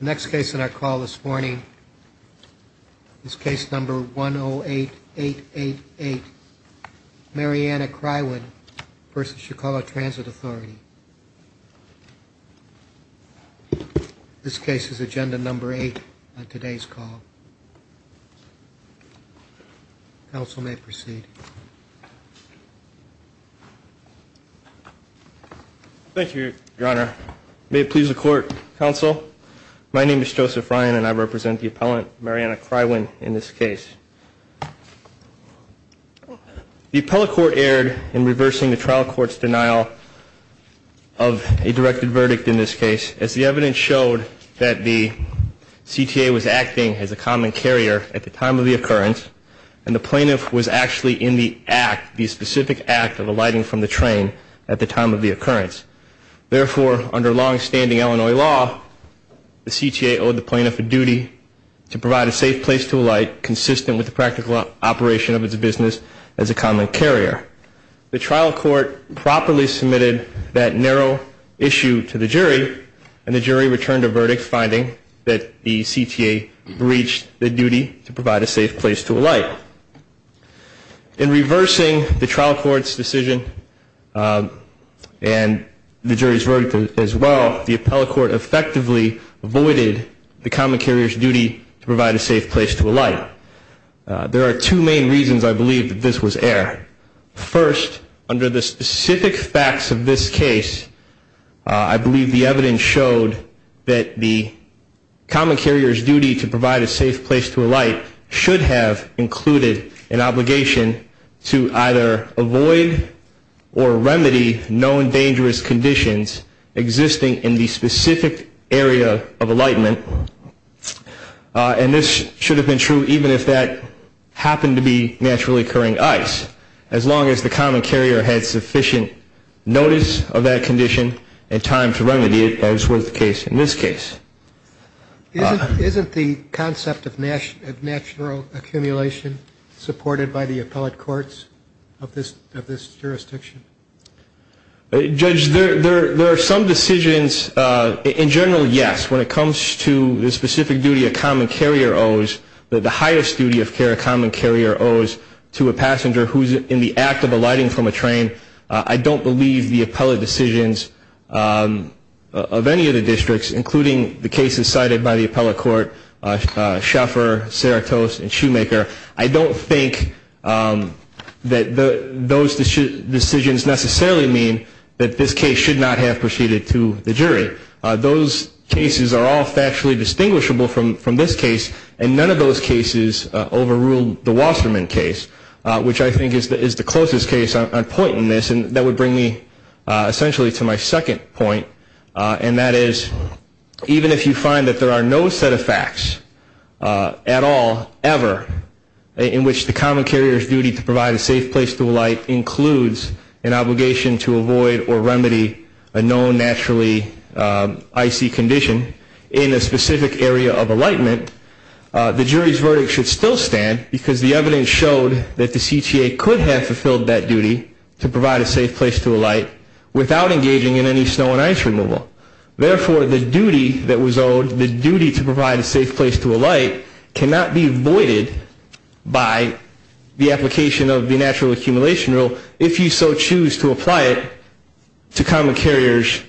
The next case in our call this morning is case number 108888, Marianna Crywin v. Chicago Transit Authority. This case is agenda number eight on today's call. Counsel may proceed. Thank you, Your Honor. May it please the Court, Counsel. My name is Joseph Ryan and I represent the appellant, Marianna Crywin, in this case. The appellate court erred in reversing the trial court's denial of a directed verdict in this case as the evidence showed that the CTA was acting as a common carrier at the time of the occurrence and the plaintiff was actually in the act, the specific act of alighting from the train at the time of the occurrence. Therefore, under long-standing Illinois law, the CTA owed the plaintiff a duty to provide a safe place to alight consistent with the practical operation of its business as a common carrier. The trial court properly submitted that narrow issue to the jury and the jury returned a verdict finding that the CTA breached the duty to provide a safe place to alight. In reversing the trial court's decision and the jury's verdict as well, the appellate court effectively avoided the common carrier's duty to provide a safe place to alight. There are two main reasons I believe that this was error. First, under the specific facts of this case, I believe the evidence showed that the common carrier's duty to provide a safe place to alight should have included an obligation to either avoid or remedy known dangerous conditions existing in the specific area of alightment. And this should have been true even if that happened to be naturally occurring ice. As long as the common carrier had sufficient notice of that condition and time to remedy it as was the case in this case. Isn't the concept of natural accumulation supported by the appellate courts of this jurisdiction? Judge, there are some decisions. In general, yes. When it comes to the specific duty a common carrier owes, the highest duty of care a common carrier owes to a passenger who's in the act of alighting from a train, I don't believe the appellate decisions of any of the districts, including the cases cited by the appellate court, Schaeffer, Cerritos, and Shoemaker, I don't think that those decisions necessarily mean that this case should not have proceeded to the jury. Those cases are all factually distinguishable from this case, and none of those cases overrule the Wasserman case, which I think is the closest case on point in this, and that would bring me essentially to my second point, and that is even if you find that there are no set of facts at all, ever, in which the common carrier's duty to provide a safe place to alight includes an obligation to avoid or remedy a known naturally icy condition in a specific area of alightment, the jury's verdict should still stand because the evidence showed that the CTA could have fulfilled that duty to provide a safe place to alight without engaging in any snow and ice removal. Therefore, the duty that was owed, the duty to provide a safe place to alight, cannot be voided by the application of the natural accumulation rule if you so choose to apply it to common carriers,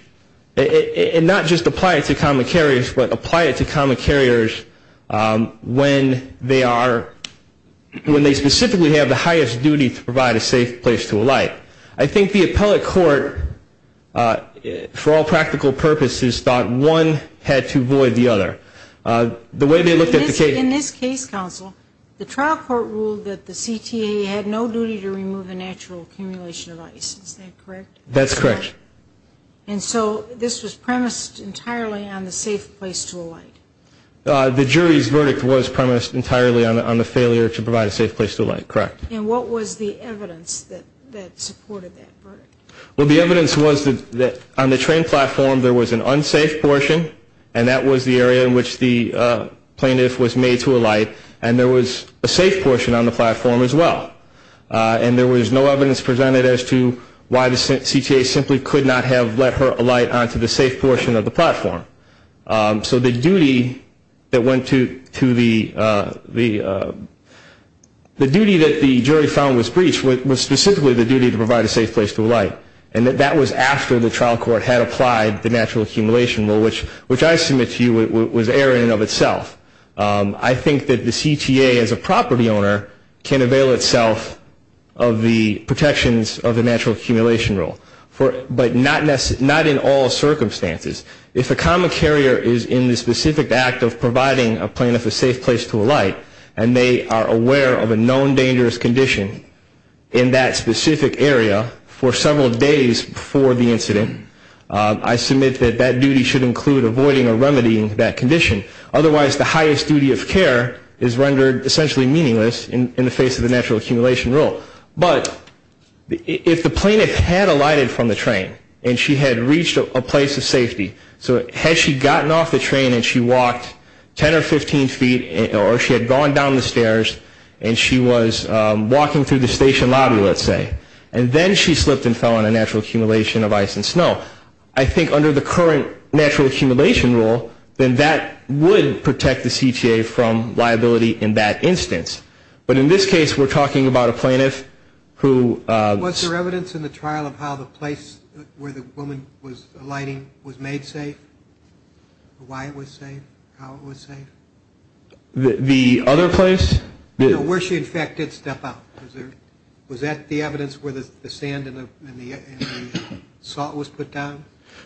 and not just apply it to common carriers, but apply it to common carriers when they are, when they specifically have the highest duty to provide a safe place to alight. I think the appellate court, for all practical purposes, thought one had to avoid the other. The way they looked at the case. In this case, counsel, the trial court ruled that the CTA had no duty to remove the natural accumulation of ice. Is that correct? That's correct. And so this was premised entirely on the safe place to alight? The jury's verdict was premised entirely on the failure to provide a safe place to alight, correct. And what was the evidence that supported that verdict? Well, the evidence was that on the train platform there was an unsafe portion, and that was the area in which the plaintiff was made to alight, and there was a safe portion on the platform as well. And there was no evidence presented as to why the CTA simply could not have let her alight onto the safe portion of the platform. So the duty that went to the, the duty that the jury found was breached was specifically the duty to provide a safe place to alight. And that was after the trial court had applied the natural accumulation rule, which I submit to you was error in and of itself. I think that the CTA as a property owner can avail itself of the protections of the natural accumulation rule. But not in all circumstances. If a common carrier is in the specific act of providing a plaintiff a safe place to alight, and they are aware of a known dangerous condition in that specific area for several days before the incident, I submit that that duty should include avoiding or remedying that condition. Otherwise, the highest duty of care is rendered essentially meaningless in the face of the natural accumulation rule. But if the plaintiff had alighted from the train and she had reached a place of safety, so had she gotten off the train and she walked 10 or 15 feet or she had gone down the stairs and she was walking through the station lobby, let's say, and then she slipped and fell in a natural accumulation of ice and snow, I think under the current natural accumulation rule, then that would protect the CTA from liability in that instance. But in this case, we're talking about a plaintiff who... Was there evidence in the trial of how the place where the woman was alighting was made safe? Why it was safe? How it was safe? The other place? Where she, in fact, did step out. Was that the evidence where the sand and the salt was put down?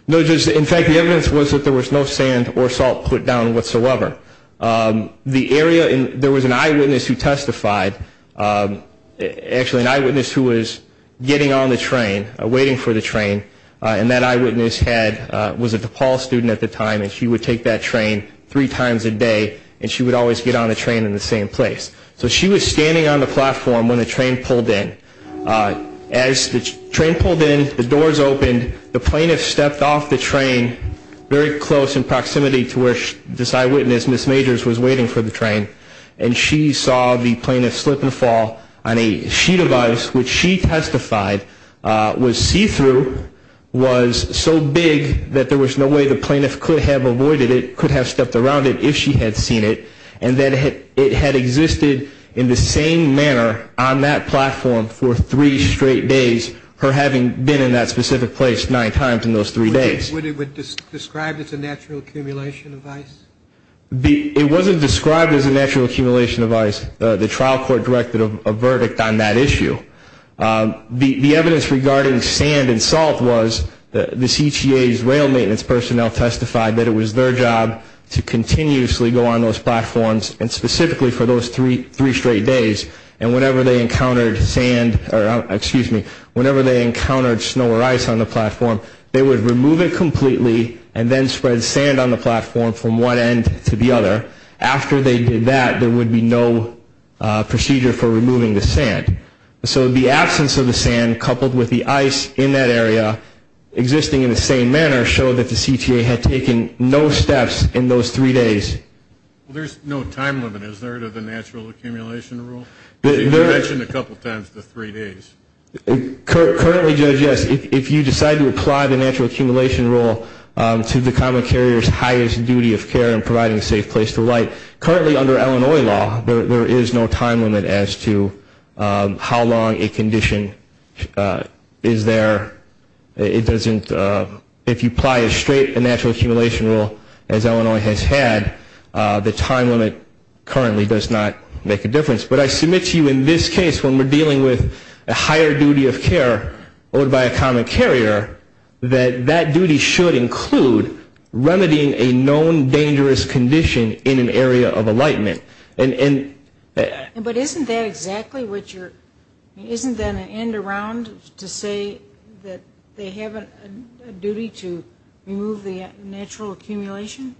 No, just... In fact, the evidence was that there was no sand or salt put down whatsoever. The area... There was an eyewitness who testified... Actually, an eyewitness who was getting on the train, waiting for the train, and that eyewitness had... Was a DePaul student at the time and she would take that train three times a day and she would always get on the train in the same place. So she was standing on the platform when the train pulled in. As the train pulled in, the doors opened. The plaintiff stepped off the train very close in proximity to where this eyewitness, Ms. Majors, was waiting for the train, and she saw the plaintiff slip and fall on a sheet of ice which she testified was see-through, was so big that there was no way the plaintiff could have avoided it, could have stepped around it if she had seen it, and that it had existed in the same manner on that platform for three straight days, her having been in that specific place nine times in those three days. Would it be described as a natural accumulation of ice? It wasn't described as a natural accumulation of ice. The trial court directed a verdict on that issue. The evidence regarding sand and salt was the CTA's rail maintenance personnel testified that it was their job to continuously go on those platforms, and specifically for those three straight days, and whenever they encountered sand or, excuse me, whenever they encountered snow or ice on the platform, they would remove it completely and then spread sand on the platform from one end to the other. After they did that, there would be no procedure for removing the sand. So the absence of the sand coupled with the ice in that area existing in the same manner showed that the CTA had taken no steps in those three days. Well, there's no time limit, is there, to the natural accumulation rule? You mentioned a couple times the three days. Currently, Judge, yes. If you decide to apply the natural accumulation rule to the common carrier's highest duty of care in providing a safe place to light, currently under Illinois law, there is no time limit as to how long a condition is there. If you apply a straight natural accumulation rule, as Illinois has had, the time limit currently does not make a difference. But I submit to you in this case, when we're dealing with a higher duty of care owed by a common carrier, that that duty should include remedying a known dangerous condition in an area of alightment. But isn't that an end around to say that they have a duty to remove the natural accumulation?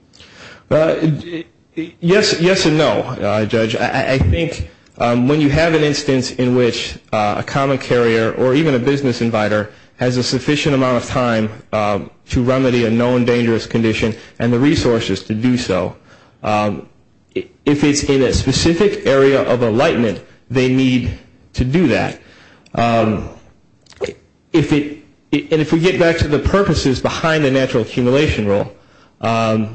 Yes and no, Judge. I think when you have an instance in which a common carrier or even a business inviter has a sufficient amount of time to remedy a known dangerous condition and the resources to do so, if it's in a specific area of alightment, they need to do that. And if we get back to the purposes behind the natural accumulation rule, I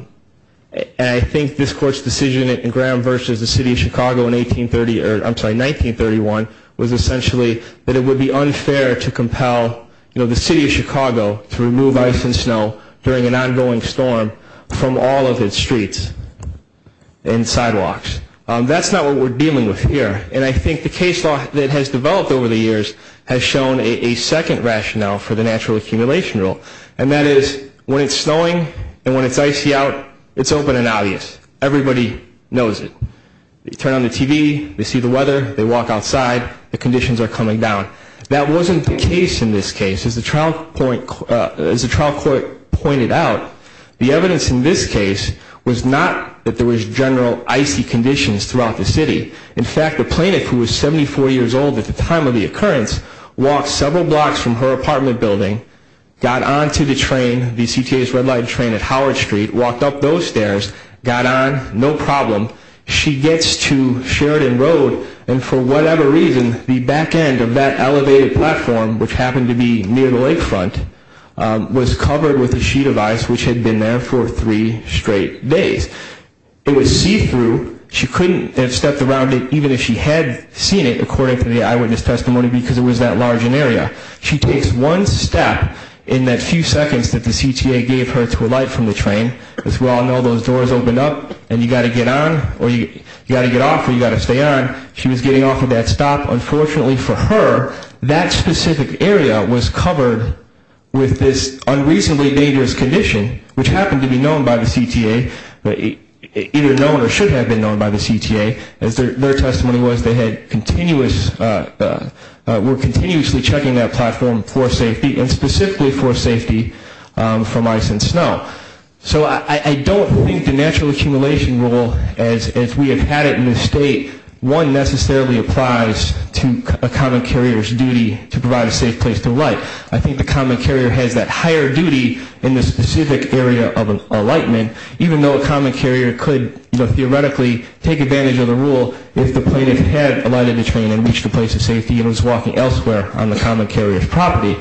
think this Court's decision in Graham v. the City of Chicago in 1931 was essentially that it would be unfair to compel the City of Chicago to remove ice and snow during an ongoing storm from all of its streets and sidewalks. That's not what we're dealing with here. And I think the case law that has developed over the years has shown a second rationale for the natural accumulation rule, and that is when it's snowing and when it's icy out, it's open and obvious. Everybody knows it. They turn on the TV, they see the weather, they walk outside, the conditions are coming down. That wasn't the case in this case. As the trial court pointed out, the evidence in this case was not that there was general icy conditions throughout the city. In fact, the plaintiff, who was 74 years old at the time of the occurrence, walked several blocks from her apartment building, got onto the train, the CTA's red light train at Howard Street, walked up those stairs, got on, no problem. She gets to Sheridan Road, and for whatever reason, the back end of that elevated platform, which happened to be near the lakefront, was covered with a sheet of ice, which had been there for three straight days. It was see-through. She couldn't have stepped around it, even if she had seen it, according to the eyewitness testimony, because it was that large an area. She takes one step in that few seconds that the CTA gave her to alight from the train, as we all know, those doors open up, and you've got to get on, or you've got to get off, or you've got to stay on. She was getting off at that stop. Unfortunately for her, that specific area was covered with this unreasonably dangerous condition, which happened to be known by the CTA, either known or should have been known by the CTA. As their testimony was, they were continuously checking that platform for safety, and specifically for safety from ice and snow. So I don't think the natural accumulation rule, as we have had it in this state, one necessarily applies to a common carrier's duty to provide a safe place to alight. I think the common carrier has that higher duty in the specific area of an alightment, even though a common carrier could theoretically take advantage of the rule if the plaintiff had alighted the train and reached a place of safety and was walking elsewhere on the common carrier's property.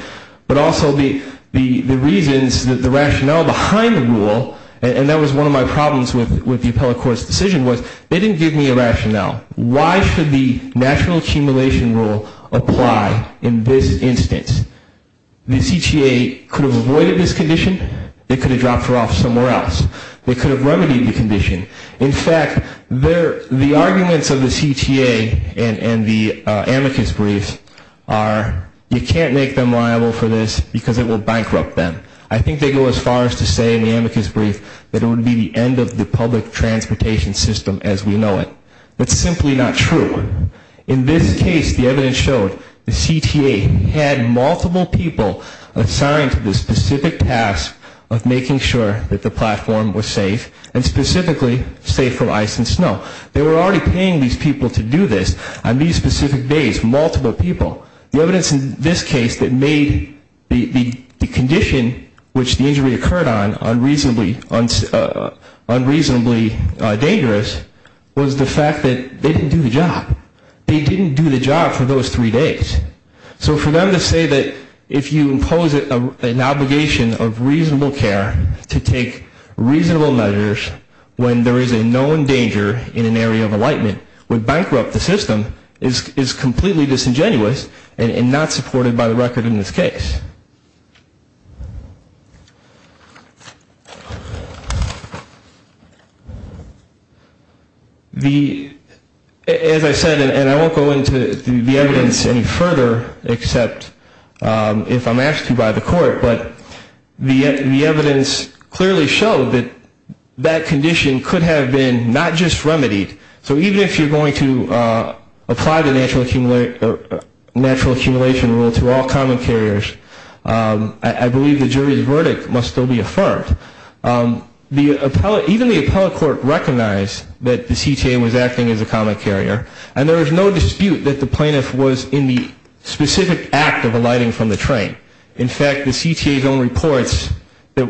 But also the reasons, the rationale behind the rule, and that was one of my problems with the appellate court's decision, was they didn't give me a rationale. Why should the natural accumulation rule apply in this instance? The CTA could have avoided this condition. They could have dropped her off somewhere else. They could have remedied the condition. In fact, the arguments of the CTA and the amicus brief are you can't make them liable for this because it will bankrupt them. I think they go as far as to say in the amicus brief that it would be the end of the public transportation system as we know it. That's simply not true. In this case, the evidence showed the CTA had multiple people assigned to the specific task of making sure that the platform was safe, and specifically safe from ice and snow. They were already paying these people to do this on these specific days, multiple people. The evidence in this case that made the condition which the injury occurred on unreasonably dangerous was the fact that they didn't do the job. They didn't do the job for those three days. So for them to say that if you impose an obligation of reasonable care to take reasonable measures when there is a known danger in an area of enlightenment would bankrupt the system is completely disingenuous and not supported by the record in this case. As I said, and I won't go into the evidence any further except if I'm asked to by the court, but the evidence clearly showed that that condition could have been not just remedied. So even if you're going to apply the natural accumulation rule to all common carriers, I believe the jury's verdict must still be affirmed. Even the appellate court recognized that the CTA was acting as a common carrier, and there was no dispute that the plaintiff was in the specific act of alighting from the train. In fact, the CTA's own reports,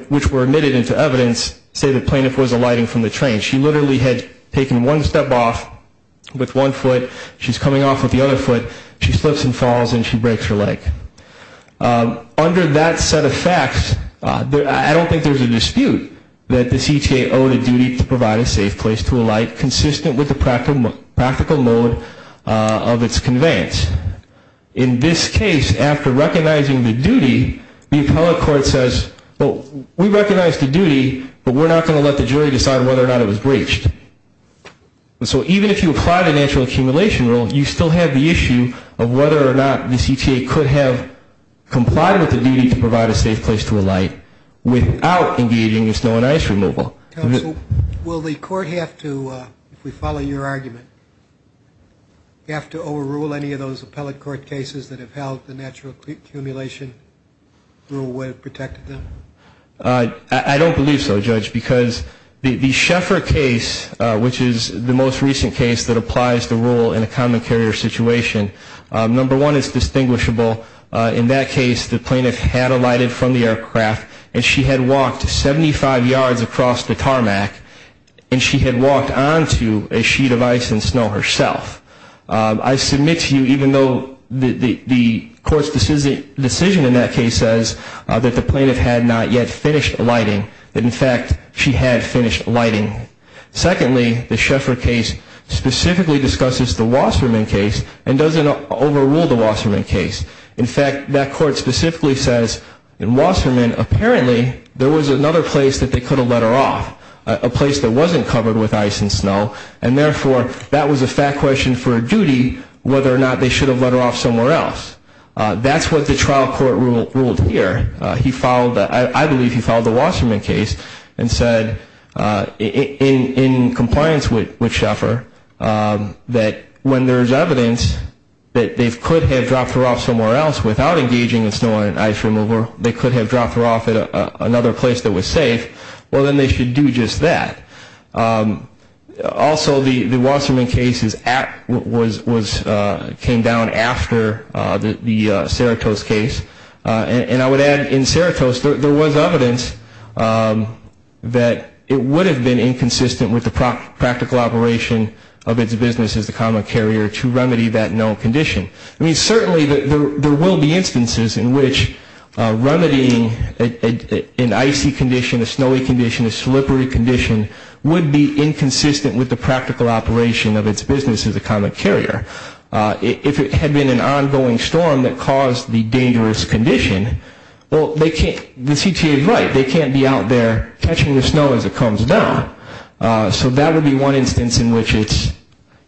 which were admitted into evidence, say the plaintiff was alighting from the train. She literally had taken one step off with one foot. She's coming off with the other foot. She slips and falls, and she breaks her leg. Under that set of facts, I don't think there's a dispute that the CTA owed a duty to provide a safe place to alight, consistent with the practical mode of its conveyance. In this case, after recognizing the duty, the appellate court says, well, we recognize the duty, but we're not going to let the jury decide whether or not it was breached. So even if you apply the natural accumulation rule, you still have the issue of whether or not the CTA could have complied with the duty to provide a safe place to alight without engaging in snow and ice removal. Counsel, will the court have to, if we follow your argument, have to overrule any of those appellate court cases that have held the natural accumulation rule would have protected them? I don't believe so, Judge, because the Scheffer case, which is the most recent case that applies the rule in a common carrier situation, number one, it's distinguishable. In that case, the plaintiff had alighted from the aircraft, and she had walked 75 yards across the tarmac, and she had walked onto a sheet of ice and snow herself. I submit to you, even though the court's decision in that case says that the plaintiff had not yet finished alighting, that, in fact, she had finished alighting. Secondly, the Scheffer case specifically discusses the Wasserman case and doesn't overrule the Wasserman case. In fact, that court specifically says in Wasserman, apparently, there was another place that they could have let her off, a place that wasn't covered with ice and snow, and therefore, that was a fact question for a duty, whether or not they should have let her off somewhere else. That's what the trial court ruled here. I believe he followed the Wasserman case and said, in compliance with Scheffer, that when there's evidence that they could have dropped her off somewhere else without engaging in snow and ice removal, they could have dropped her off at another place that was safe, well, then they should do just that. Also, the Wasserman case came down after the Cerritos case. And I would add, in Cerritos, there was evidence that it would have been inconsistent with the practical operation of its business as a common carrier to remedy that known condition. I mean, certainly there will be instances in which remedying an icy condition, a snowy condition, a slippery condition would be inconsistent with the practical operation of its business as a common carrier. If it had been an ongoing storm that caused the dangerous condition, well, the CTA is right. They can't be out there catching the snow as it comes down. So that would be one instance in which it's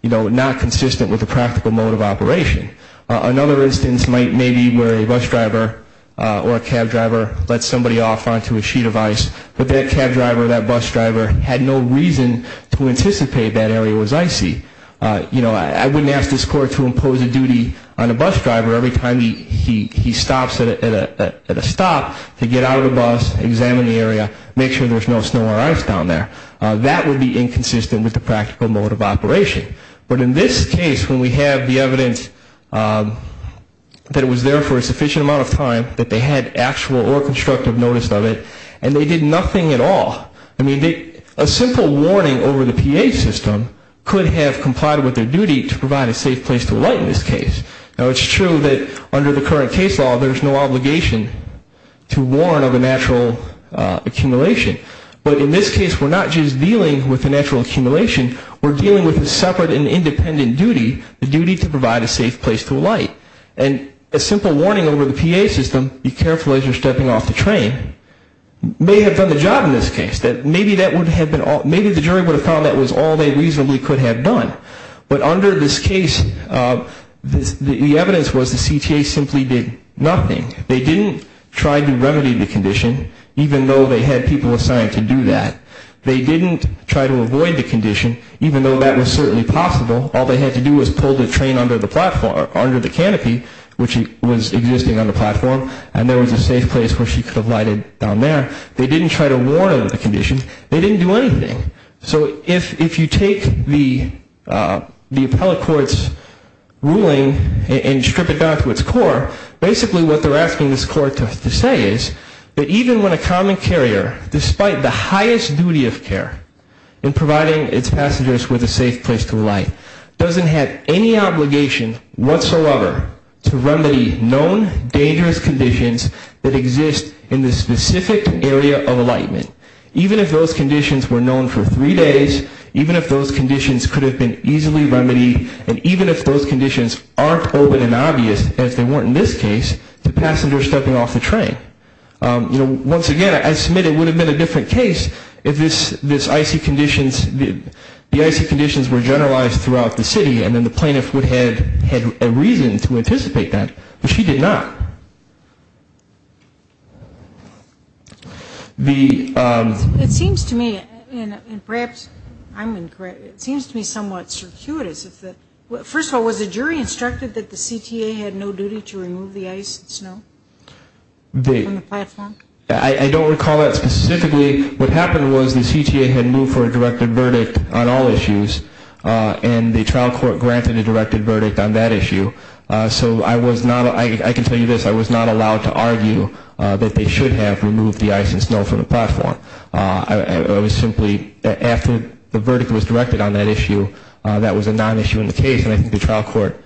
not consistent with the practical mode of operation. Another instance may be where a bus driver or a cab driver lets somebody off onto a sheet of ice, but that cab driver or that bus driver had no reason to anticipate that area was icy. I wouldn't ask this court to impose a duty on a bus driver every time he stops at a stop to get out of the bus, examine the area, make sure there's no snow or ice down there. That would be inconsistent with the practical mode of operation. But in this case, when we have the evidence that it was there for a sufficient amount of time, that they had actual or constructive notice of it, and they did nothing at all, I mean, a simple warning over the PA system could have complied with their duty to provide a safe place to alight in this case. Now, it's true that under the current case law, there's no obligation to warn of a natural accumulation. But in this case, we're not just dealing with a natural accumulation. We're dealing with a separate and independent duty, the duty to provide a safe place to alight. And a simple warning over the PA system, be careful as you're stepping off the train, may have done the job in this case. Maybe the jury would have found that was all they reasonably could have done. But under this case, the evidence was the CTA simply did nothing. They didn't try to remedy the condition, even though they had people assigned to do that. They didn't try to avoid the condition, even though that was certainly possible. All they had to do was pull the train under the platform, under the canopy, which was existing on the platform, and there was a safe place where she could have alighted down there. They didn't try to warn of the condition. They didn't do anything. So if you take the appellate court's ruling and strip it down to its core, basically what they're asking this court to say is that even when a common carrier, despite the highest duty of care in providing its passengers with a safe place to alight, doesn't have any obligation whatsoever to remedy known dangerous conditions that exist in the specific area of alightment, even if those conditions were known for three days, even if those conditions could have been easily remedied, and even if those conditions aren't open and obvious, as they weren't in this case, to passengers stepping off the train. Once again, I submit it would have been a different case if the icy conditions were generalized throughout the city, and then the plaintiff would have had a reason to anticipate that. But she did not. It seems to me somewhat circuitous. First of all, was the jury instructed that the CTA had no duty to remove the ice and snow? From the platform? I don't recall that specifically. What happened was the CTA had moved for a directed verdict on all issues, and the trial court granted a directed verdict on that issue. So I can tell you this. I was not allowed to argue that they should have removed the ice and snow from the platform. It was simply that after the verdict was directed on that issue, that was a nonissue in the case, and I think the trial court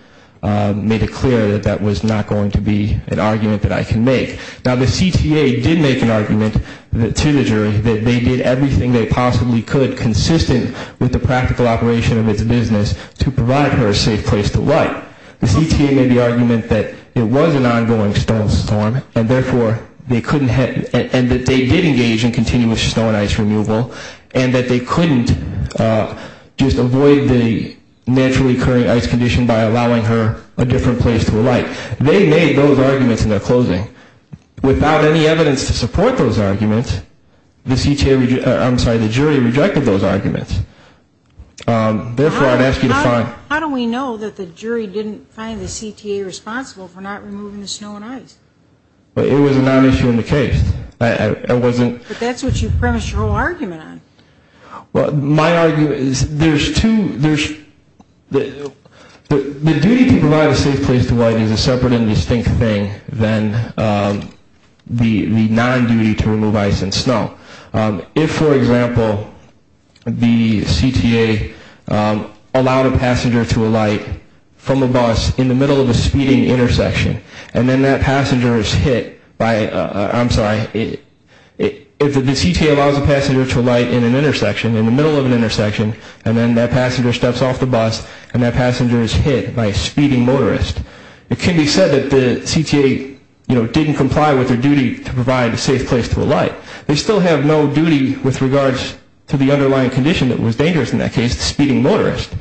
made it clear that that was not going to be an argument that I can make. Now, the CTA did make an argument to the jury that they did everything they possibly could, consistent with the practical operation of its business, to provide her a safe place to lie. The CTA made the argument that it was an ongoing snow and ice storm, and that they did engage in continuous snow and ice removal, and that they couldn't just avoid the naturally occurring ice condition by allowing her a different place to lie. They made those arguments in their closing. Without any evidence to support those arguments, the jury rejected those arguments. Therefore, I'd ask you to find. How do we know that the jury didn't find the CTA responsible for not removing the snow and ice? It was a nonissue in the case. But that's what you promised your whole argument on. Well, my argument is there's two. The duty to provide a safe place to lie is a separate and distinct thing than the non-duty to remove ice and snow. If, for example, the CTA allowed a passenger to alight from a bus in the middle of a speeding intersection, and then that passenger is hit by a, I'm sorry, if the CTA allows a passenger to alight in an intersection, in the middle of an intersection, and then that passenger steps off the bus, and that passenger is hit by a speeding motorist, it can be said that the CTA, you know, didn't comply with their duty to provide a safe place to alight. They still have no duty with regards to the underlying condition that was dangerous in that case, the speeding motorist.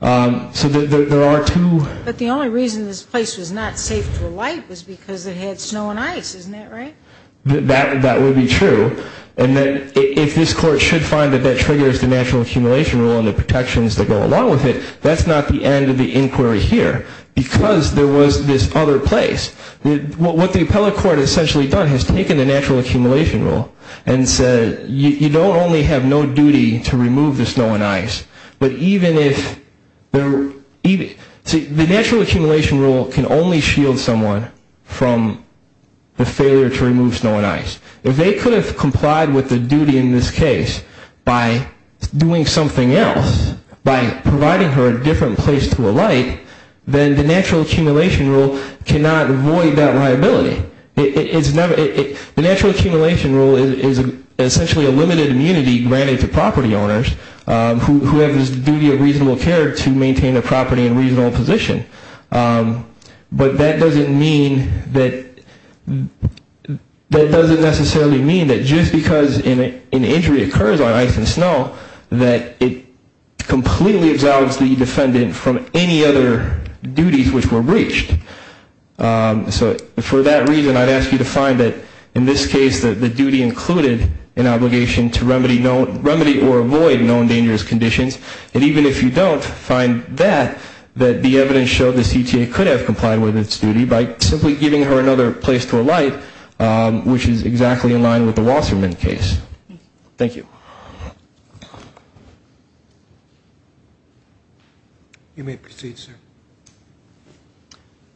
So there are two. But the only reason this place was not safe to alight was because it had snow and ice. Isn't that right? That would be true. And then if this Court should find that that triggers the natural accumulation rule and the protections that go along with it, that's not the end of the inquiry here because there was this other place. What the appellate court essentially done is taken the natural accumulation rule and said you don't only have no duty to remove the snow and ice, but even if, the natural accumulation rule can only shield someone from the failure to remove snow and ice. If they could have complied with the duty in this case by doing something else, by providing her a different place to alight, then the natural accumulation rule cannot void that liability. The natural accumulation rule is essentially a limited immunity granted to property owners who have this duty of reasonable care to maintain their property in a reasonable position. But that doesn't necessarily mean that just because an injury occurs on ice and snow, that it completely absolves the defendant from any other duties which were breached. So for that reason, I'd ask you to find that in this case, the duty included an obligation to remedy or avoid known dangerous conditions. And even if you don't find that, that the evidence showed the CTA could have complied with its duty by simply giving her another place to alight, which is exactly in line with the Wasserman case. Thank you. You may proceed, sir.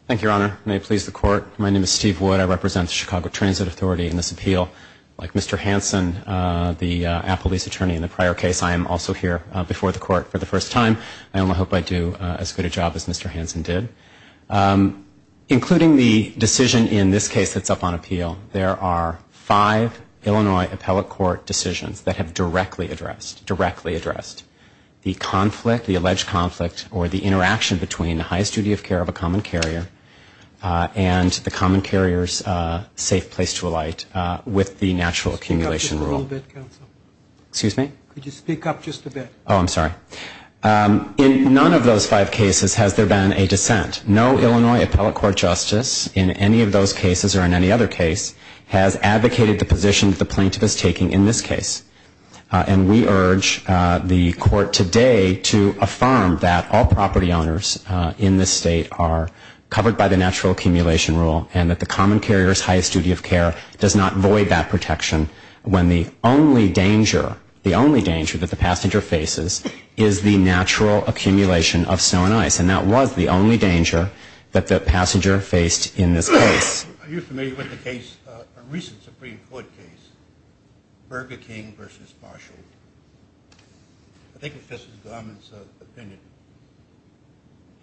Thank you, Your Honor. May it please the Court. My name is Steve Wood. I represent the Chicago Transit Authority in this appeal. Like Mr. Hansen, the Applebee's attorney in the prior case, I am also here before the Court for the first time. I only hope I do as good a job as Mr. Hansen did. Including the decision in this case that's up on appeal, there are five Illinois appellate court decisions that have directly addressed the conflict, the alleged conflict, or the interaction between the highest duty of care of a common carrier and the common carrier's safe place to alight with the natural accumulation rule. Could you speak up just a little bit, counsel? Excuse me? Could you speak up just a bit? Oh, I'm sorry. In none of those five cases has there been a dissent. No Illinois appellate court justice in any of those cases or in any other case has advocated the position that the plaintiff is taking in this case. And we urge the Court today to affirm that all property owners in this state are covered by the natural accumulation rule and that the common carrier's highest duty of care does not void that protection when the only danger, the only danger that the passenger faces is the natural accumulation of snow and ice. And that was the only danger that the passenger faced in this case. Are you familiar with the case, a recent Supreme Court case, Burger King v. Marshall? I think it's Justice Garment's opinion.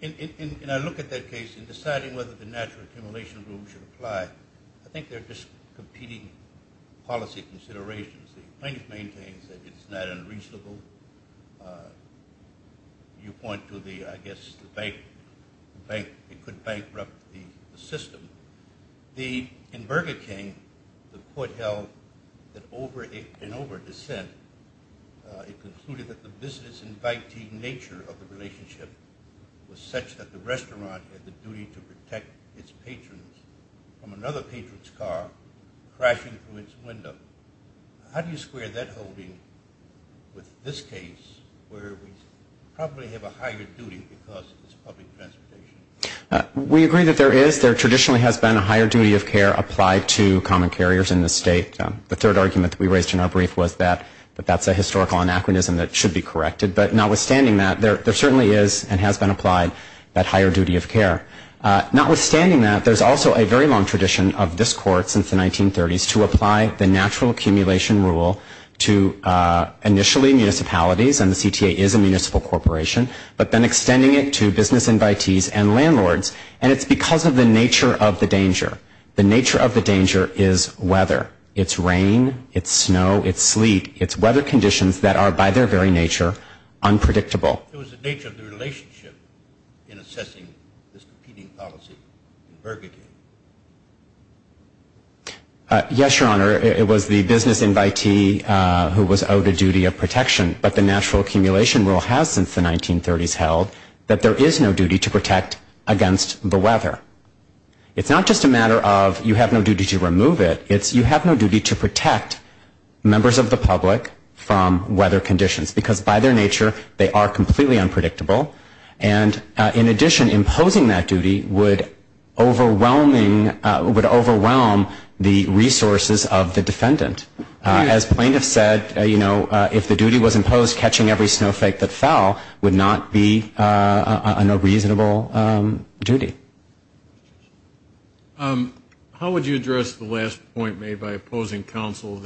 And I look at that case in deciding whether the natural accumulation rule should apply. I think they're just competing policy considerations. The plaintiff maintains that it's not unreasonable. You point to the, I guess, the bank. It could bankrupt the system. In Burger King, the Court held that over and over dissent, it concluded that the business and banking nature of the relationship was such that the restaurant had the duty to protect its patrons from another patron's car crashing through its window. How do you square that holding with this case where we probably have a higher duty because it's public transportation? We agree that there is. There traditionally has been a higher duty of care applied to common carriers in this state. The third argument that we raised in our brief was that that's a historical anachronism that should be corrected. But notwithstanding that, there certainly is and has been applied that higher duty of care. Notwithstanding that, there's also a very long tradition of this Court since the 1930s to apply the natural accumulation rule to initially municipalities, and the CTA is a municipal corporation, but then extending it to business invitees and landlords. And it's because of the nature of the danger. The nature of the danger is weather. It's rain. It's snow. It's sleet. It's weather conditions that are, by their very nature, unpredictable. What was the nature of the relationship in assessing this competing policy in Burgundy? Yes, Your Honor. It was the business invitee who was owed a duty of protection, but the natural accumulation rule has since the 1930s held that there is no duty to protect against the weather. It's not just a matter of you have no duty to remove it. It's you have no duty to protect members of the public from weather conditions because by their nature they are completely unpredictable. And in addition, imposing that duty would overwhelm the resources of the defendant. As plaintiffs said, you know, if the duty was imposed, catching every snowflake that fell would not be a reasonable duty. How would you address the last point made by opposing counsel,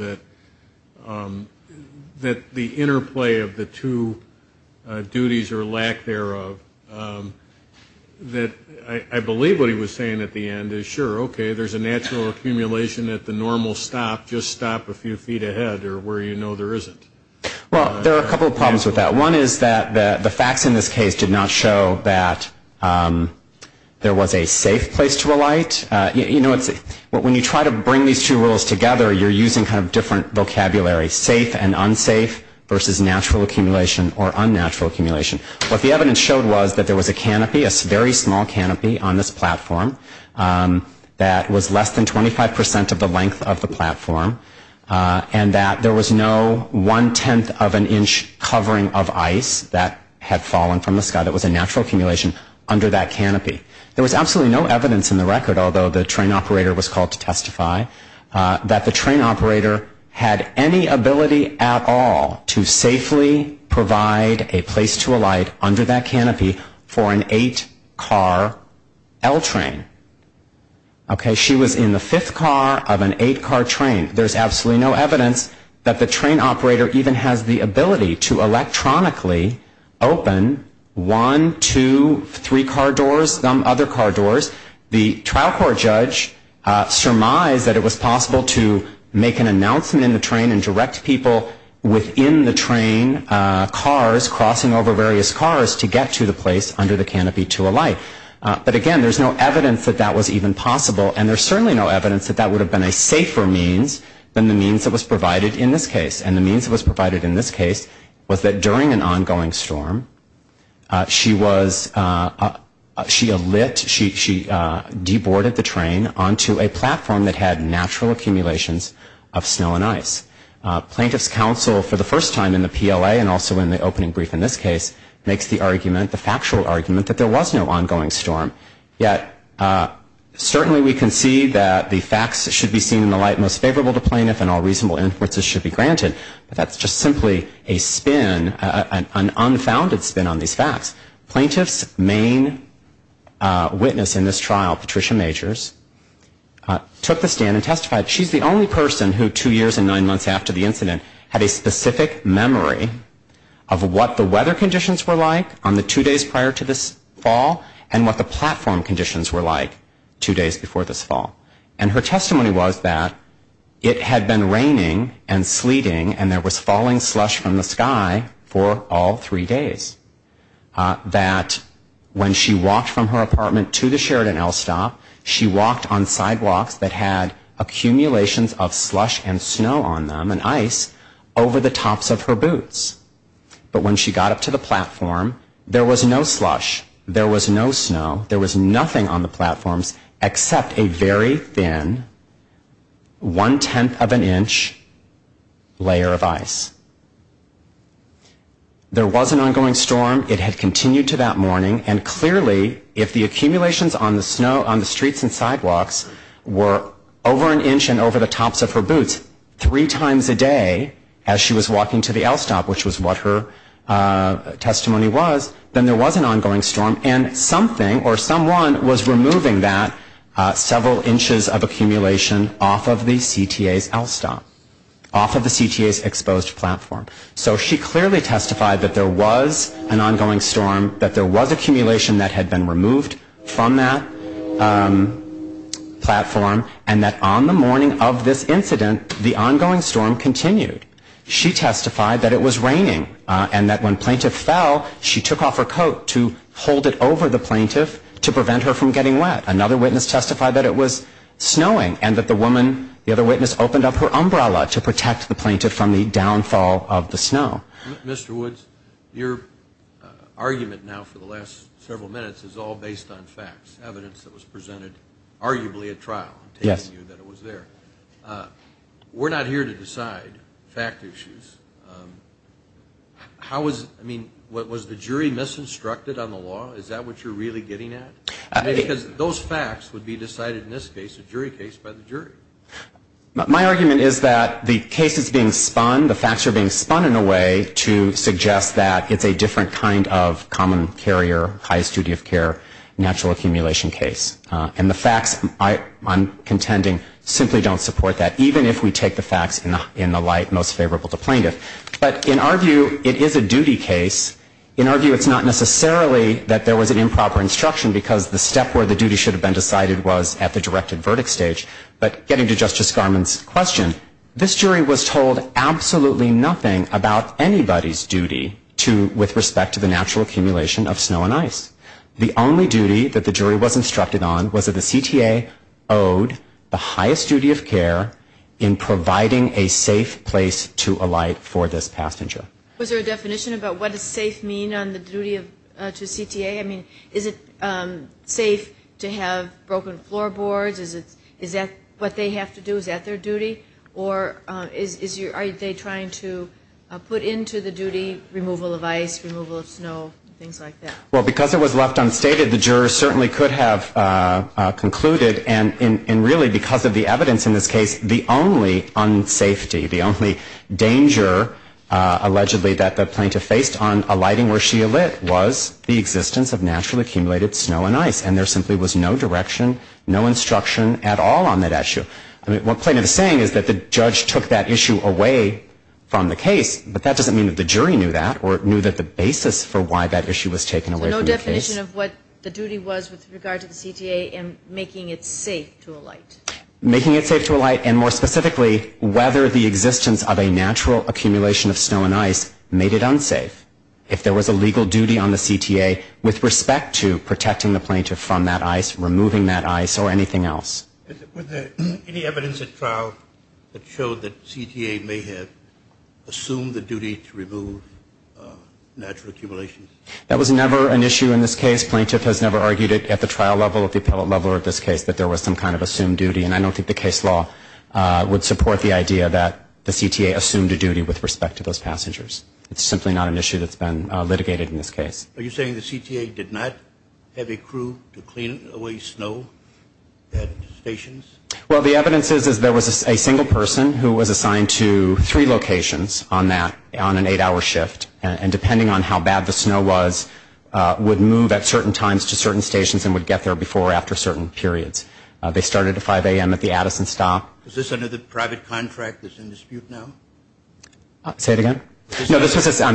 that the interplay of the two duties or lack thereof, that I believe what he was saying at the end is, sure, okay, there's a natural accumulation at the normal stop, just stop a few feet ahead or where you know there isn't. Well, there are a couple of problems with that. One is that the facts in this case did not show that there was a safe place to alight. You know, when you try to bring these two rules together, you're using kind of different vocabulary, safe and unsafe versus natural accumulation or unnatural accumulation. What the evidence showed was that there was a canopy, a very small canopy on this platform that was less than 25 percent of the length of the platform and that there was no one-tenth of an inch covering of ice that had fallen from the sky. That was a natural accumulation under that canopy. There was absolutely no evidence in the record, although the train operator was called to testify, that the train operator had any ability at all to safely provide a place to alight under that canopy for an eight-car L train. Okay, she was in the fifth car of an eight-car train. There's absolutely no evidence that the train operator even has the ability to electronically open one, two, three car doors, some other car doors. The trial court judge surmised that it was possible to make an announcement in the train and direct people within the train cars crossing over various cars to get to the place under the canopy to alight. But again, there's no evidence that that was even possible, and there's certainly no evidence that that would have been a safer means than the means that was provided in this case. And the means that was provided in this case was that during an ongoing storm, she alit, she deboarded the train onto a platform that had natural accumulations of snow and ice. Plaintiff's counsel for the first time in the PLA and also in the opening brief in this case makes the argument, the factual argument, that there was no ongoing storm. Yet certainly we can see that the facts should be seen in the light most favorable to plaintiff and all reasonable inferences should be granted. But that's just simply a spin, an unfounded spin on these facts. Plaintiff's main witness in this trial, Patricia Majors, took the stand and testified. She's the only person who, two years and nine months after the incident, had a specific memory of what the weather conditions were like on the two days prior to this fall and what the platform conditions were like two days before this fall. And her testimony was that it had been raining and sleeting and there was falling slush from the sky for all three days. That when she walked from her apartment to the Sheridan L stop, she walked on sidewalks that had accumulations of slush and snow on them and ice over the tops of her boots. But when she got up to the platform, there was no slush, there was no snow, there was nothing on the platforms except a very thin one-tenth of an inch layer of ice. There was an ongoing storm. It had continued to that morning, and clearly, if the accumulations on the streets and sidewalks were over an inch and over the tops of her boots three times a day as she was walking to the L stop, which was what her testimony was, then there was an ongoing storm. And something or someone was removing that several inches of accumulation off of the CTA's L stop, off of the CTA's exposed platform. So she clearly testified that there was an ongoing storm, that there was accumulation that had been removed from that platform, and that on the morning of this incident, the ongoing storm continued. She testified that it was raining and that when plaintiff fell, she took off her coat to hold it over the plaintiff to prevent her from getting wet. Another witness testified that it was snowing and that the woman, the other witness, opened up her umbrella to protect the plaintiff from the downfall of the snow. Mr. Woods, your argument now for the last several minutes is all based on facts, evidence that was presented arguably at trial. We're not here to decide fact issues. How was, I mean, was the jury misinstructed on the law? Is that what you're really getting at? Because those facts would be decided in this case, a jury case, by the jury. My argument is that the case is being spun, the facts are being spun in a way to suggest that it's a different kind of common carrier, highest duty of care, natural accumulation case. And the facts, I'm contending, simply don't support that, even if we take the facts in the light most favorable to plaintiff. But in our view, it is a duty case. In our view, it's not necessarily that there was an improper instruction, because the step where the duty should have been decided was at the directed verdict stage. But getting to Justice Garmon's question, this jury was told absolutely nothing about anybody's duty to, with respect to the natural accumulation of snow and ice. The only duty that the jury was instructed on was that the CTA owed the highest duty of care in providing a safe place to alight for this passenger. Was there a definition about what does safe mean on the duty to CTA? I mean, is it safe to have broken floorboards? Is that what they have to do, is that their duty? Or are they trying to put into the duty removal of ice, removal of snow, things like that? Well, because it was left unstated, the jurors certainly could have concluded, and really because of the evidence in this case, the only unsafety, the only danger allegedly that the plaintiff faced on alighting where she alit was the existence of naturally accumulated snow and ice. And there simply was no direction, no instruction at all on that issue. I mean, what plaintiff is saying is that the judge took that issue away from the case, but that doesn't mean that the jury knew that or knew that the basis for why that issue was taken away from the case. So no definition of what the duty was with regard to the CTA in making it safe to alight? Making it safe to alight and, more specifically, whether the existence of a natural accumulation of snow and ice made it unsafe. If there was a legal duty on the CTA with respect to protecting the plaintiff from that ice, removing that ice, or anything else. Were there any evidence at trial that showed that CTA may have assumed the duty to remove natural accumulations? That was never an issue in this case. Plaintiff has never argued it at the trial level, at the appellate level, or at this case, that there was some kind of assumed duty. And I don't think the case law would support the idea that the CTA assumed a duty with respect to those passengers. It's simply not an issue that's been litigated in this case. Are you saying the CTA did not have a crew to clean away snow at stations? Well, the evidence is there was a single person who was assigned to three locations on that, on an eight-hour shift, and depending on how bad the snow was, would move at certain times to certain stations and would get there before or after certain periods. They started at 5 a.m. at the Addison stop. Is this under the private contract that's in dispute now? Say it again? No, I'm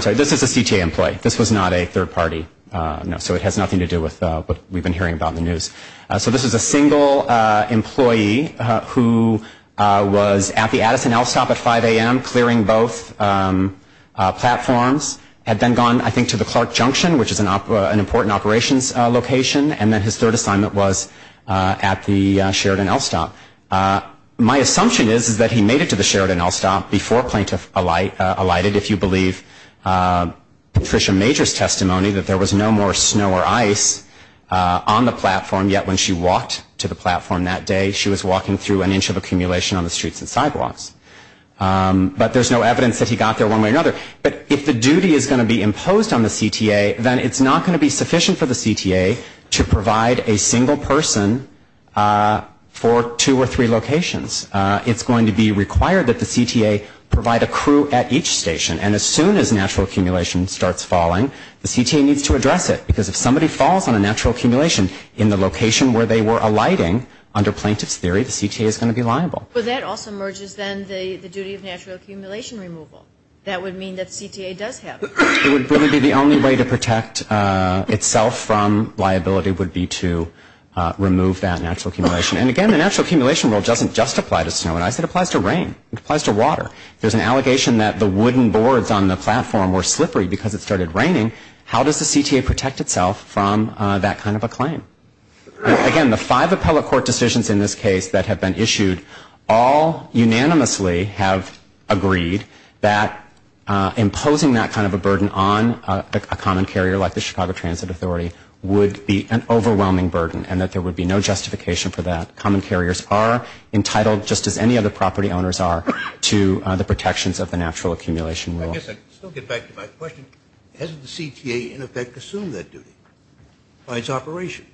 sorry. This is a CTA employee. This was not a third party. So it has nothing to do with what we've been hearing about in the news. So this is a single employee who was at the Addison L stop at 5 a.m. clearing both platforms, had then gone, I think, to the Clark Junction, which is an important operations location, and then his third assignment was at the Sheridan L stop. My assumption is that he made it to the Sheridan L stop before plaintiff alighted, if you believe Patricia Major's testimony, that there was no more snow or ice on the platform, yet when she walked to the platform that day, she was walking through an inch of accumulation on the streets and sidewalks. But there's no evidence that he got there one way or another. But if the duty is going to be imposed on the CTA, then it's not going to be sufficient for the CTA to provide a single person for two or three locations. It's going to be required that the CTA provide a crew at each station. And as soon as natural accumulation starts falling, the CTA needs to address it, because if somebody falls on a natural accumulation in the location where they were alighting, under plaintiff's theory, the CTA is going to be liable. But that also merges, then, the duty of natural accumulation removal. That would mean that the CTA does have it. It would really be the only way to protect itself from liability would be to remove that natural accumulation. And again, the natural accumulation rule doesn't just apply to snow and ice. It applies to rain. It applies to water. If there's an allegation that the wooden boards on the platform were slippery because it started raining, how does the CTA protect itself from that kind of a claim? Again, the five appellate court decisions in this case that have been issued all unanimously have agreed that imposing that kind of a burden on a common carrier like the Chicago Transit Authority would be an overwhelming burden and that there would be no justification for that. Common carriers are entitled, just as any other property owners are, to the protections of the natural accumulation rule. I guess I can still get back to my question. Hasn't the CTA, in effect, assumed that duty by its operation?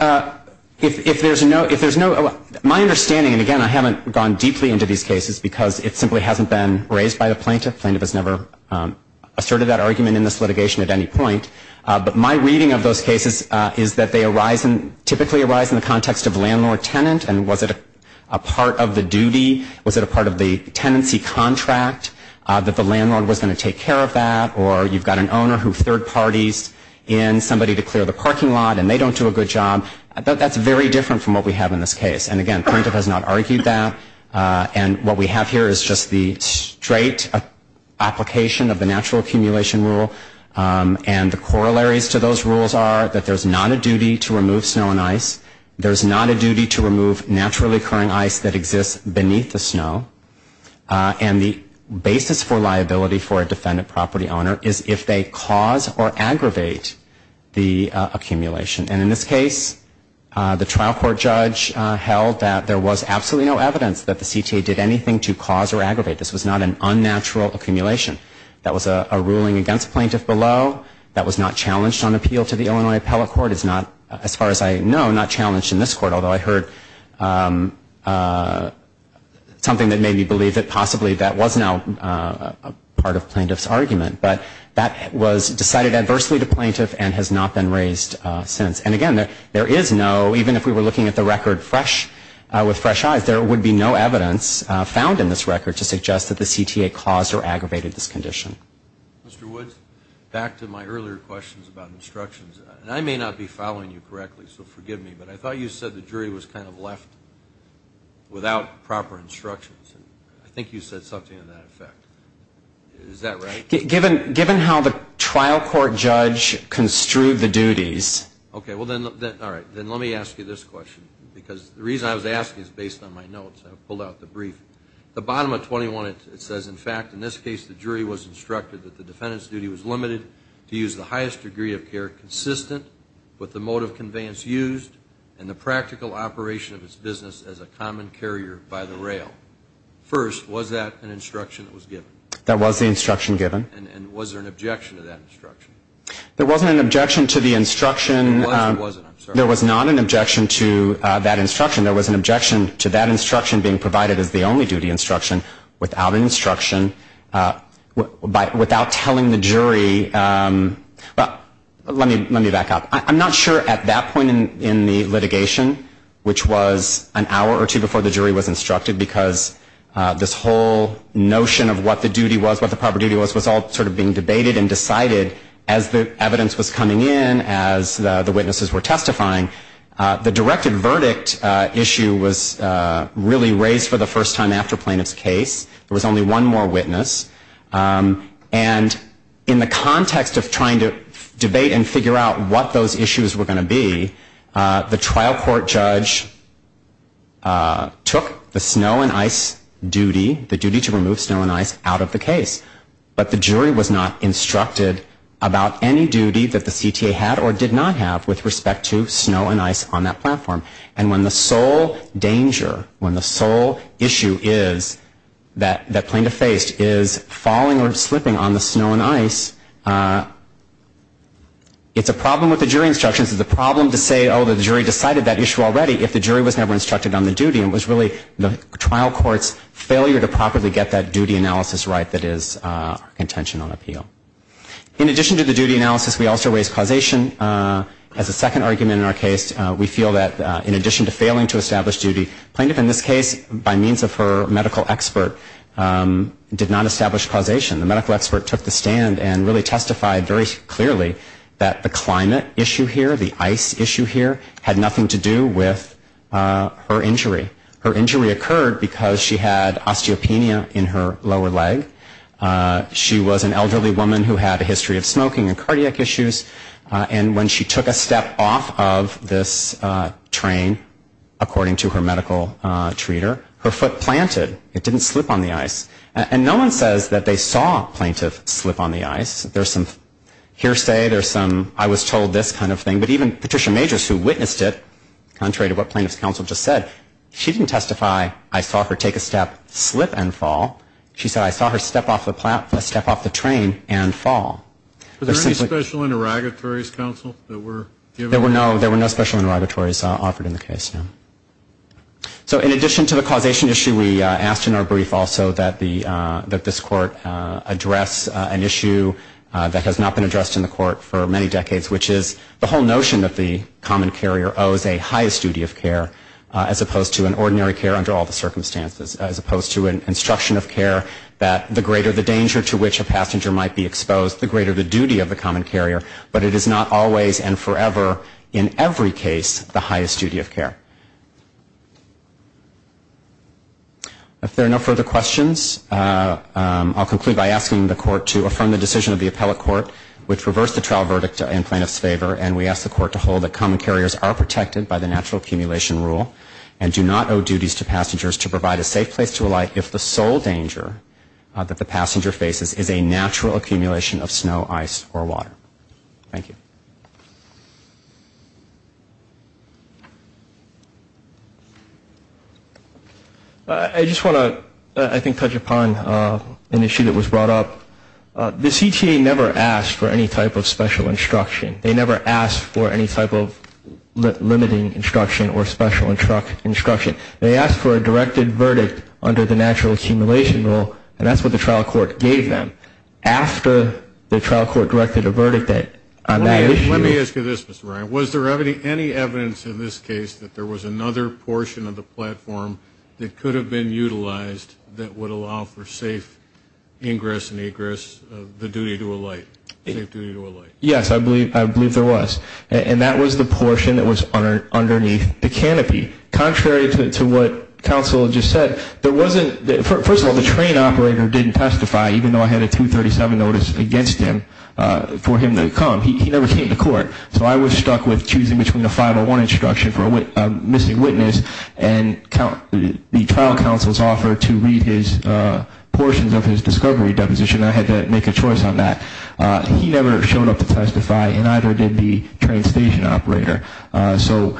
My understanding, and again, I haven't gone deeply into these cases because it simply hasn't been raised by the plaintiff. The plaintiff has never asserted that argument in this litigation at any point. But my reading of those cases is that they typically arise in the context of landlord-tenant. And was it a part of the duty? Was it a part of the tenancy contract that the landlord was going to take care of that? Or you've got an owner who third parties in somebody to clear the parking lot and they don't do a good job. That's very different from what we have in this case. And again, plaintiff has not argued that. And what we have here is just the straight application of the natural accumulation rule. And the corollaries to those rules are that there's not a duty to remove snow and ice. There's not a duty to remove naturally occurring ice that exists beneath the snow. And the basis for liability for a defendant property owner is if they cause or aggravate the accumulation. And in this case, the trial court judge held that there was absolutely no evidence that the CTA did anything to cause or aggravate. This was not an unnatural accumulation. That was a ruling against plaintiff below. That was not challenged on appeal to the Illinois Appellate Court. It's not, as far as I know, not challenged in this court, although I heard something that made me believe that possibly that was now part of plaintiff's argument. But that was decided adversely to plaintiff and has not been raised since. And again, there is no, even if we were looking at the record fresh, with fresh eyes, there would be no evidence found in this record to suggest that the CTA caused or aggravated this condition. Mr. Woods, back to my earlier questions about instructions. And I may not be following you correctly, so forgive me, but I thought you said the jury was kind of left without proper instructions. I think you said something to that effect. Is that right? Given how the trial court judge construed the duties. Okay. Well, then, all right. Then let me ask you this question, because the reason I was asking is based on my notes. I pulled out the brief. The bottom of 21, it says, in fact, in this case, the jury was instructed that the defendant's duty was limited to use the highest degree of care consistent with the mode of conveyance used and the practical operation of its business as a common carrier by the rail. First, was that an instruction that was given? That was the instruction given. And was there an objection to that instruction? There wasn't an objection to the instruction. There wasn't, I'm sorry. There was not an objection to that instruction. There was an objection to that instruction being provided as the only duty instruction without instruction, without telling the jury. Let me back up. I'm not sure at that point in the litigation, which was an hour or two before the jury was instructed, because this whole notion of what the duty was, what the proper duty was, was all sort of being debated and decided as the evidence was coming in, as the witnesses were testifying. The directed verdict issue was really raised for the first time after plaintiff's case. There was only one more witness. And in the context of trying to debate and figure out what those issues were going to be, the trial court judge took the snow and ice duty, the duty to remove snow and ice, out of the case. But the jury was not instructed about any duty that the CTA had or did not have with respect to snow and ice on that platform. And when the sole danger, when the sole issue is that plaintiff faced is falling or slipping on the snow and ice, it's a problem with the jury instructions. It's a problem to say, oh, the jury decided that issue already, if the jury was never instructed on the duty. And it was really the trial court's failure to properly get that duty analysis right that is our intention on appeal. In addition to the duty analysis, we also raised causation as a second argument in our case. We feel that in addition to failing to establish duty, plaintiff in this case, by means of her medical expert, did not establish causation. The medical expert took the stand and really testified very clearly that the climate issue here, the ice issue here, had nothing to do with her injury. Her injury occurred because she had osteopenia in her lower leg. She was an elderly woman who had a history of smoking and cardiac issues. And when she took a step off of this train, according to her medical treater, her foot planted. It didn't slip on the ice. And no one says that they saw plaintiff slip on the ice. There's some hearsay. There's some I was told this kind of thing. But even Patricia Majors, who witnessed it, contrary to what plaintiff's counsel just said, she didn't testify I saw her take a step, slip and fall. She said I saw her step off the train and fall. Was there any special interrogatories, counsel, that were given? There were no special interrogatories offered in the case, no. So in addition to the causation issue, we asked in our brief also that this court address an issue that has not been addressed in the court for many decades, which is the whole notion that the common carrier owes a highest duty of care as opposed to an ordinary care under all the circumstances, as opposed to an instruction of care that the greater the danger to which a passenger might be exposed, the greater the duty of the common carrier. But it is not always and forever in every case the highest duty of care. If there are no further questions, I'll conclude by asking the court to affirm the decision of the appellate court, which reversed the trial verdict in plaintiff's favor, and we ask the court to hold that common carriers are protected by the natural accumulation rule and do not owe duties to passengers to provide a safe place to alight if the sole danger that the passenger faces is a natural accumulation of snow, ice, or water. Thank you. I just want to, I think, touch upon an issue that was brought up. The CTA never asked for any type of special instruction. They never asked for any type of limiting instruction or special instruction. They asked for a directed verdict under the natural accumulation rule, and that's what the trial court gave them. After the trial court directed a verdict on that issue. Let me ask you this, Mr. Ryan. Was there any evidence in this case that there was another portion of the platform that could have been utilized that would allow for safe ingress and egress of the duty to alight, safe duty to alight? Yes, I believe there was. And that was the portion that was underneath the canopy. Contrary to what counsel just said, there wasn't, first of all, the train operator didn't testify, even though I had a 237 notice against him for him to come. He never came to court, so I was stuck with choosing between a 501 instruction for a missing witness and the trial counsel's offer to read his portions of his discovery deposition. I had to make a choice on that. He never showed up to testify, and neither did the train station operator. So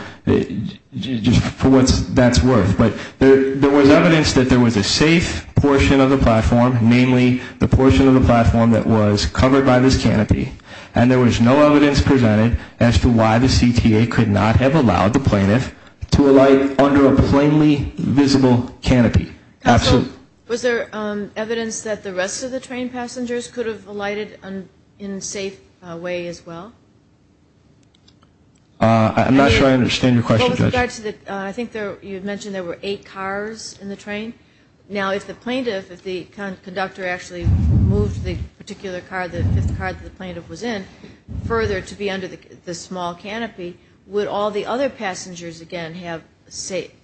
just for what that's worth. But there was evidence that there was a safe portion of the platform, namely the portion of the platform that was covered by this canopy, and there was no evidence presented as to why the CTA could not have allowed the plaintiff to alight under a plainly visible canopy. Counsel, was there evidence that the rest of the train passengers could have alighted in a safe way as well? I'm not sure I understand your question, Judge. I think you mentioned there were eight cars in the train. Now, if the conductor actually moved the particular car, the fifth car that the plaintiff was in, further to be under the small canopy, would all the other passengers, again, have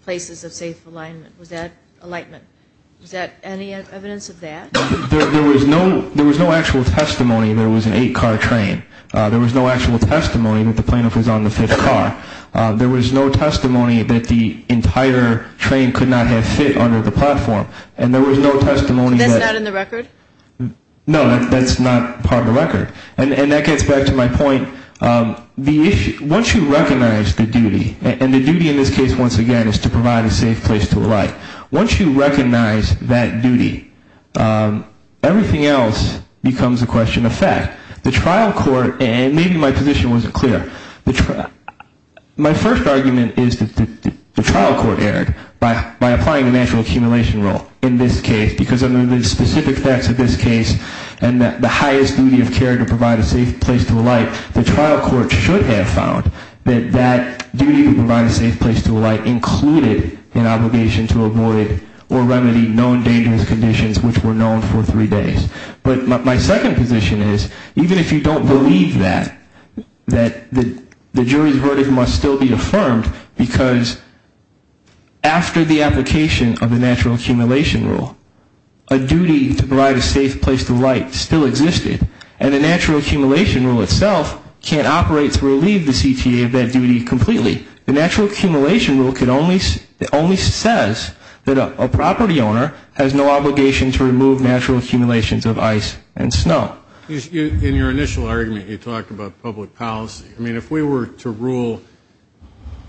places of safe alignment? Was that alightment? Was there any evidence of that? There was no actual testimony there was an eight-car train. There was no actual testimony that the plaintiff was on the fifth car. There was no testimony that the entire train could not have fit under the platform, and there was no testimony that – So that's not in the record? No, that's not part of the record. And that gets back to my point. Once you recognize the duty, and the duty in this case, once again, is to provide a safe place to alight. Once you recognize that duty, everything else becomes a question of fact. The trial court – and maybe my position wasn't clear. My first argument is that the trial court erred by applying the natural accumulation rule in this case, because under the specific facts of this case and the highest duty of care to provide a safe place to alight, the trial court should have found that that duty to provide a safe place to alight included an obligation to avoid or remedy known dangerous conditions which were known for three days. But my second position is, even if you don't believe that, that the jury's verdict must still be affirmed, because after the application of the natural accumulation rule, a duty to provide a safe place to alight still existed, and the natural accumulation rule itself can't operate to relieve the CTA of that duty completely. The natural accumulation rule can only – a property owner has no obligation to remove natural accumulations of ice and snow. In your initial argument, you talked about public policy. I mean, if we were to rule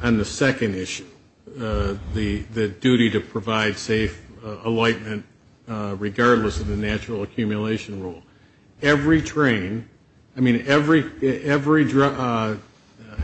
on the second issue, the duty to provide safe alightment, regardless of the natural accumulation rule, every train – I mean, every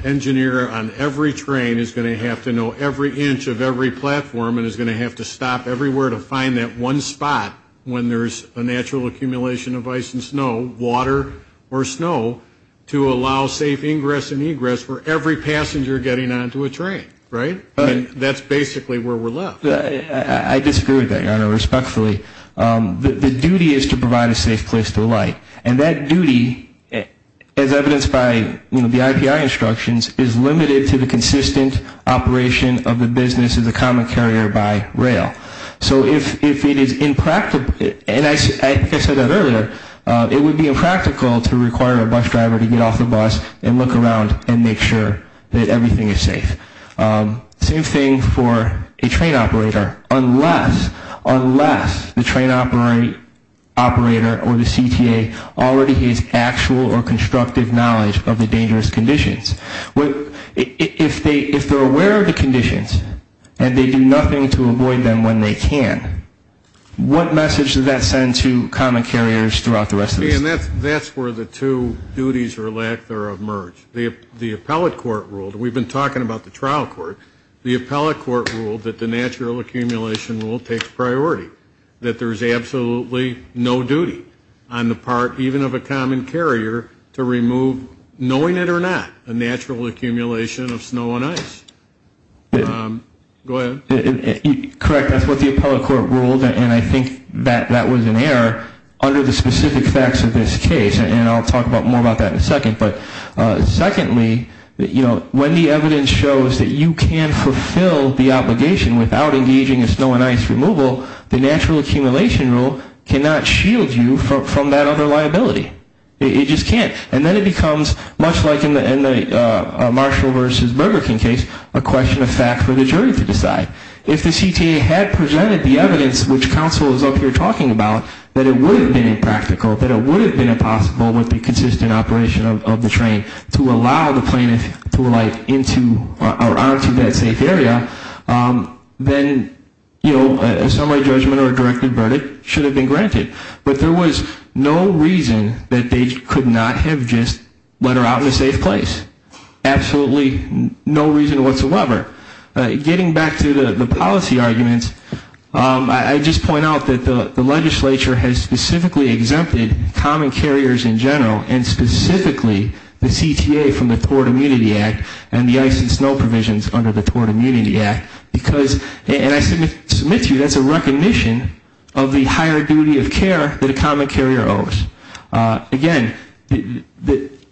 engineer on every train is going to have to know every inch of every platform and is going to have to stop everywhere to find that one spot when there's a natural accumulation of ice and snow, water or snow, to allow safe ingress and egress for every passenger getting onto a train, right? I mean, that's basically where we're left. I disagree with that, Your Honor, respectfully. The duty is to provide a safe place to alight. And that duty, as evidenced by the IPI instructions, is limited to the consistent operation of the business as a common carrier by rail. So if it is impractical – and I said that earlier – it would be impractical to require a bus driver to get off the bus and look around and make sure that everything is safe. Same thing for a train operator. Unless the train operator or the CTA already has actual or constructive knowledge of the dangerous conditions, if they're aware of the conditions and they do nothing to avoid them when they can, what message does that send to common carriers throughout the rest of the state? And that's where the two duties or lack thereof merge. The appellate court ruled – and we've been talking about the trial court – the appellate court ruled that the natural accumulation rule takes priority, that there's absolutely no duty on the part even of a common carrier to remove, knowing it or not, a natural accumulation of snow and ice. Go ahead. Correct. That's what the appellate court ruled, and I think that was an error. Under the specific facts of this case – and I'll talk more about that in a second – secondly, when the evidence shows that you can fulfill the obligation without engaging in snow and ice removal, the natural accumulation rule cannot shield you from that other liability. It just can't. And then it becomes, much like in the Marshall v. Burger King case, a question of fact for the jury to decide. If the CTA had presented the evidence, which counsel is up here talking about, that it would have been impractical, that it would have been impossible with the consistent operation of the train to allow the plaintiff to get onto that safe area, then a summary judgment or a directed verdict should have been granted. But there was no reason that they could not have just let her out in a safe place. Absolutely no reason whatsoever. Getting back to the policy arguments, I just point out that the legislature has specifically exempted common carriers in general and specifically the CTA from the Tort Immunity Act and the ice and snow provisions under the Tort Immunity Act. And I submit to you that's a recognition of the higher duty of care that a common carrier owes. Again,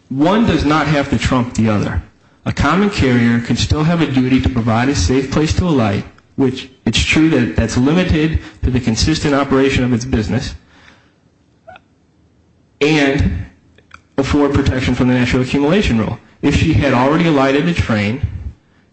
one does not have to trump the other. A common carrier can still have a duty to provide a safe place to alight, which it's true that that's limited to the consistent operation of its business, and afford protection from the natural accumulation rule. If she had already alighted the train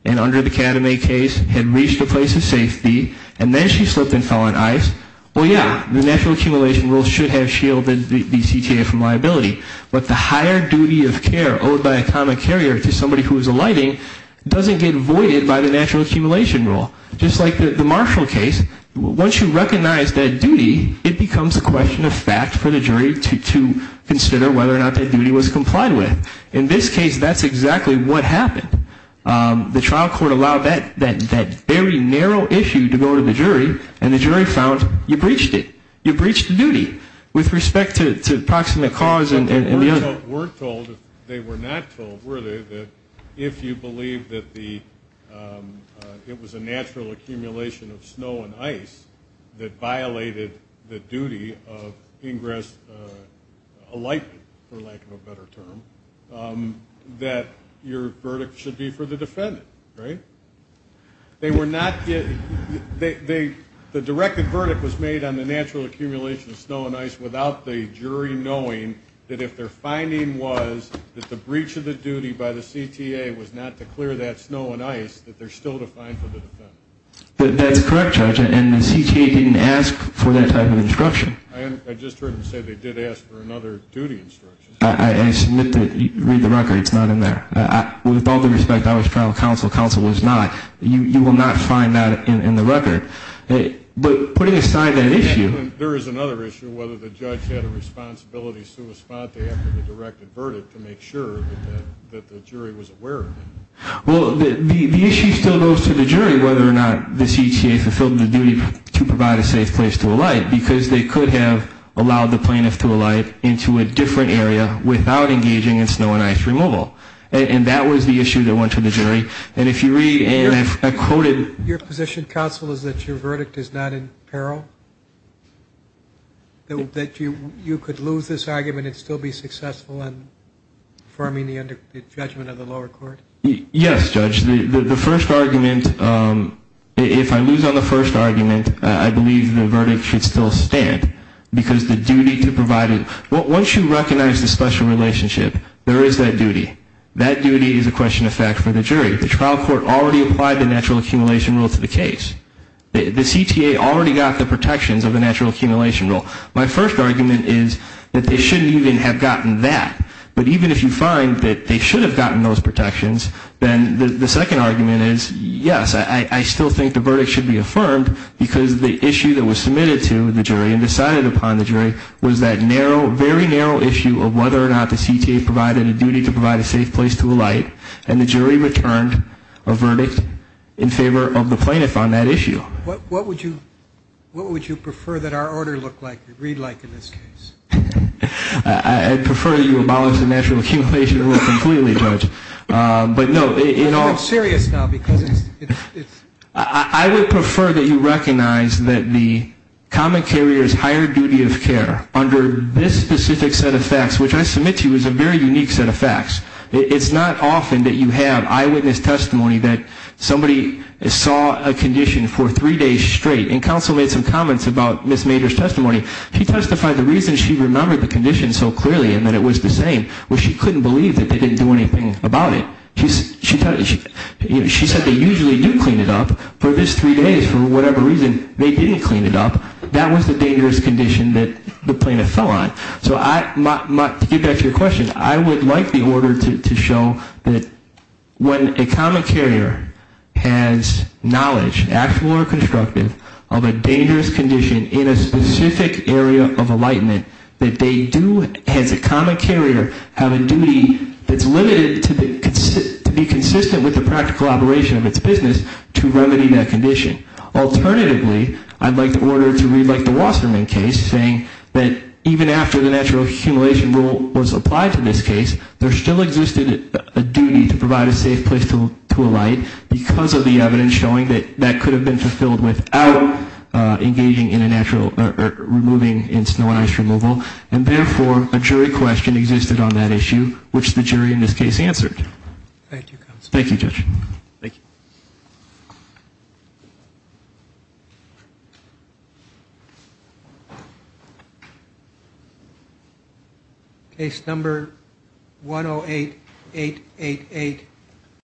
and under the Cadme case had reached a place of safety and then she slipped and fell on ice, well, yeah, the natural accumulation rule should have shielded the CTA from liability. But the higher duty of care owed by a common carrier to somebody who was alighting doesn't get voided by the natural accumulation rule. Just like the Marshall case, once you recognize that duty, it becomes a question of fact for the jury to consider whether or not that duty was complied with. In this case, that's exactly what happened. The trial court allowed that very narrow issue to go to the jury, and the jury found you breached it. With respect to proximate cause and the other. They weren't told, if they were not told, were they, that if you believe that it was a natural accumulation of snow and ice that violated the duty of ingress alightment, for lack of a better term, that your verdict should be for the defendant, right? They were not, the directed verdict was made on the natural accumulation of snow and ice without the jury knowing that if their finding was that the breach of the duty by the CTA was not to clear that snow and ice, that they're still defined for the defendant. That's correct, Judge, and the CTA didn't ask for that type of instruction. I just heard them say they did ask for another duty instruction. I submit that, read the record, it's not in there. With all due respect, I was trying to counsel. Counsel was not. You will not find that in the record. But putting aside that issue. There is another issue, whether the judge had a responsibility sui sponte after the directed verdict to make sure that the jury was aware of it. Well, the issue still goes to the jury whether or not the CTA fulfilled the duty to provide a safe place to alight, because they could have allowed the plaintiff to alight into a different area without engaging in snow and ice removal. And that was the issue that went to the jury. And if you read, and I quoted. Your position, counsel, is that your verdict is not in peril? That you could lose this argument and still be successful in affirming the judgment of the lower court? Yes, Judge. The first argument, if I lose on the first argument, I believe the verdict should still stand, because the duty to provide it. Once you recognize the special relationship, there is that duty. That duty is a question of fact for the jury. The trial court already applied the natural accumulation rule to the case. The CTA already got the protections of the natural accumulation rule. My first argument is that they shouldn't even have gotten that. But even if you find that they should have gotten those protections, then the second argument is, yes, I still think the verdict should be affirmed, because the issue that was submitted to the jury and decided upon the jury was that narrow, very narrow issue of whether or not the CTA provided a duty to provide a safe place to alight. And the jury returned a verdict in favor of the plaintiff on that issue. What would you prefer that our order look like, read like in this case? I'd prefer that you abolish the natural accumulation rule completely, Judge. But, no, in all. It's serious now, because it's. I would prefer that you recognize that the common carrier's higher duty of care under this specific set of facts, which I submit to you is a very unique set of facts. It's not often that you have eyewitness testimony that somebody saw a condition for three days straight. And counsel made some comments about Ms. Mader's testimony. She testified the reason she remembered the condition so clearly and that it was the same was she couldn't believe that they didn't do anything about it. She said they usually do clean it up. For this three days, for whatever reason, they didn't clean it up. That was the dangerous condition that the plaintiff fell on. So to get back to your question, I would like the order to show that when a common carrier has knowledge, actual or constructive, of a dangerous condition in a specific area of alightment, that they do, as a common carrier, have a duty that's limited to be consistent with the practical operation of its business to remedy that condition. Alternatively, I'd like the order to read like the Wasserman case, saying that even after the natural accumulation rule was applied to this case, there still existed a duty to provide a safe place to alight because of the evidence showing that that could have been fulfilled without engaging in a natural or removing in snow and ice removal. And therefore, a jury question existed on that issue, which the jury in this case answered. Thank you, counsel. Thank you, Judge. Thank you. Case number 108-888.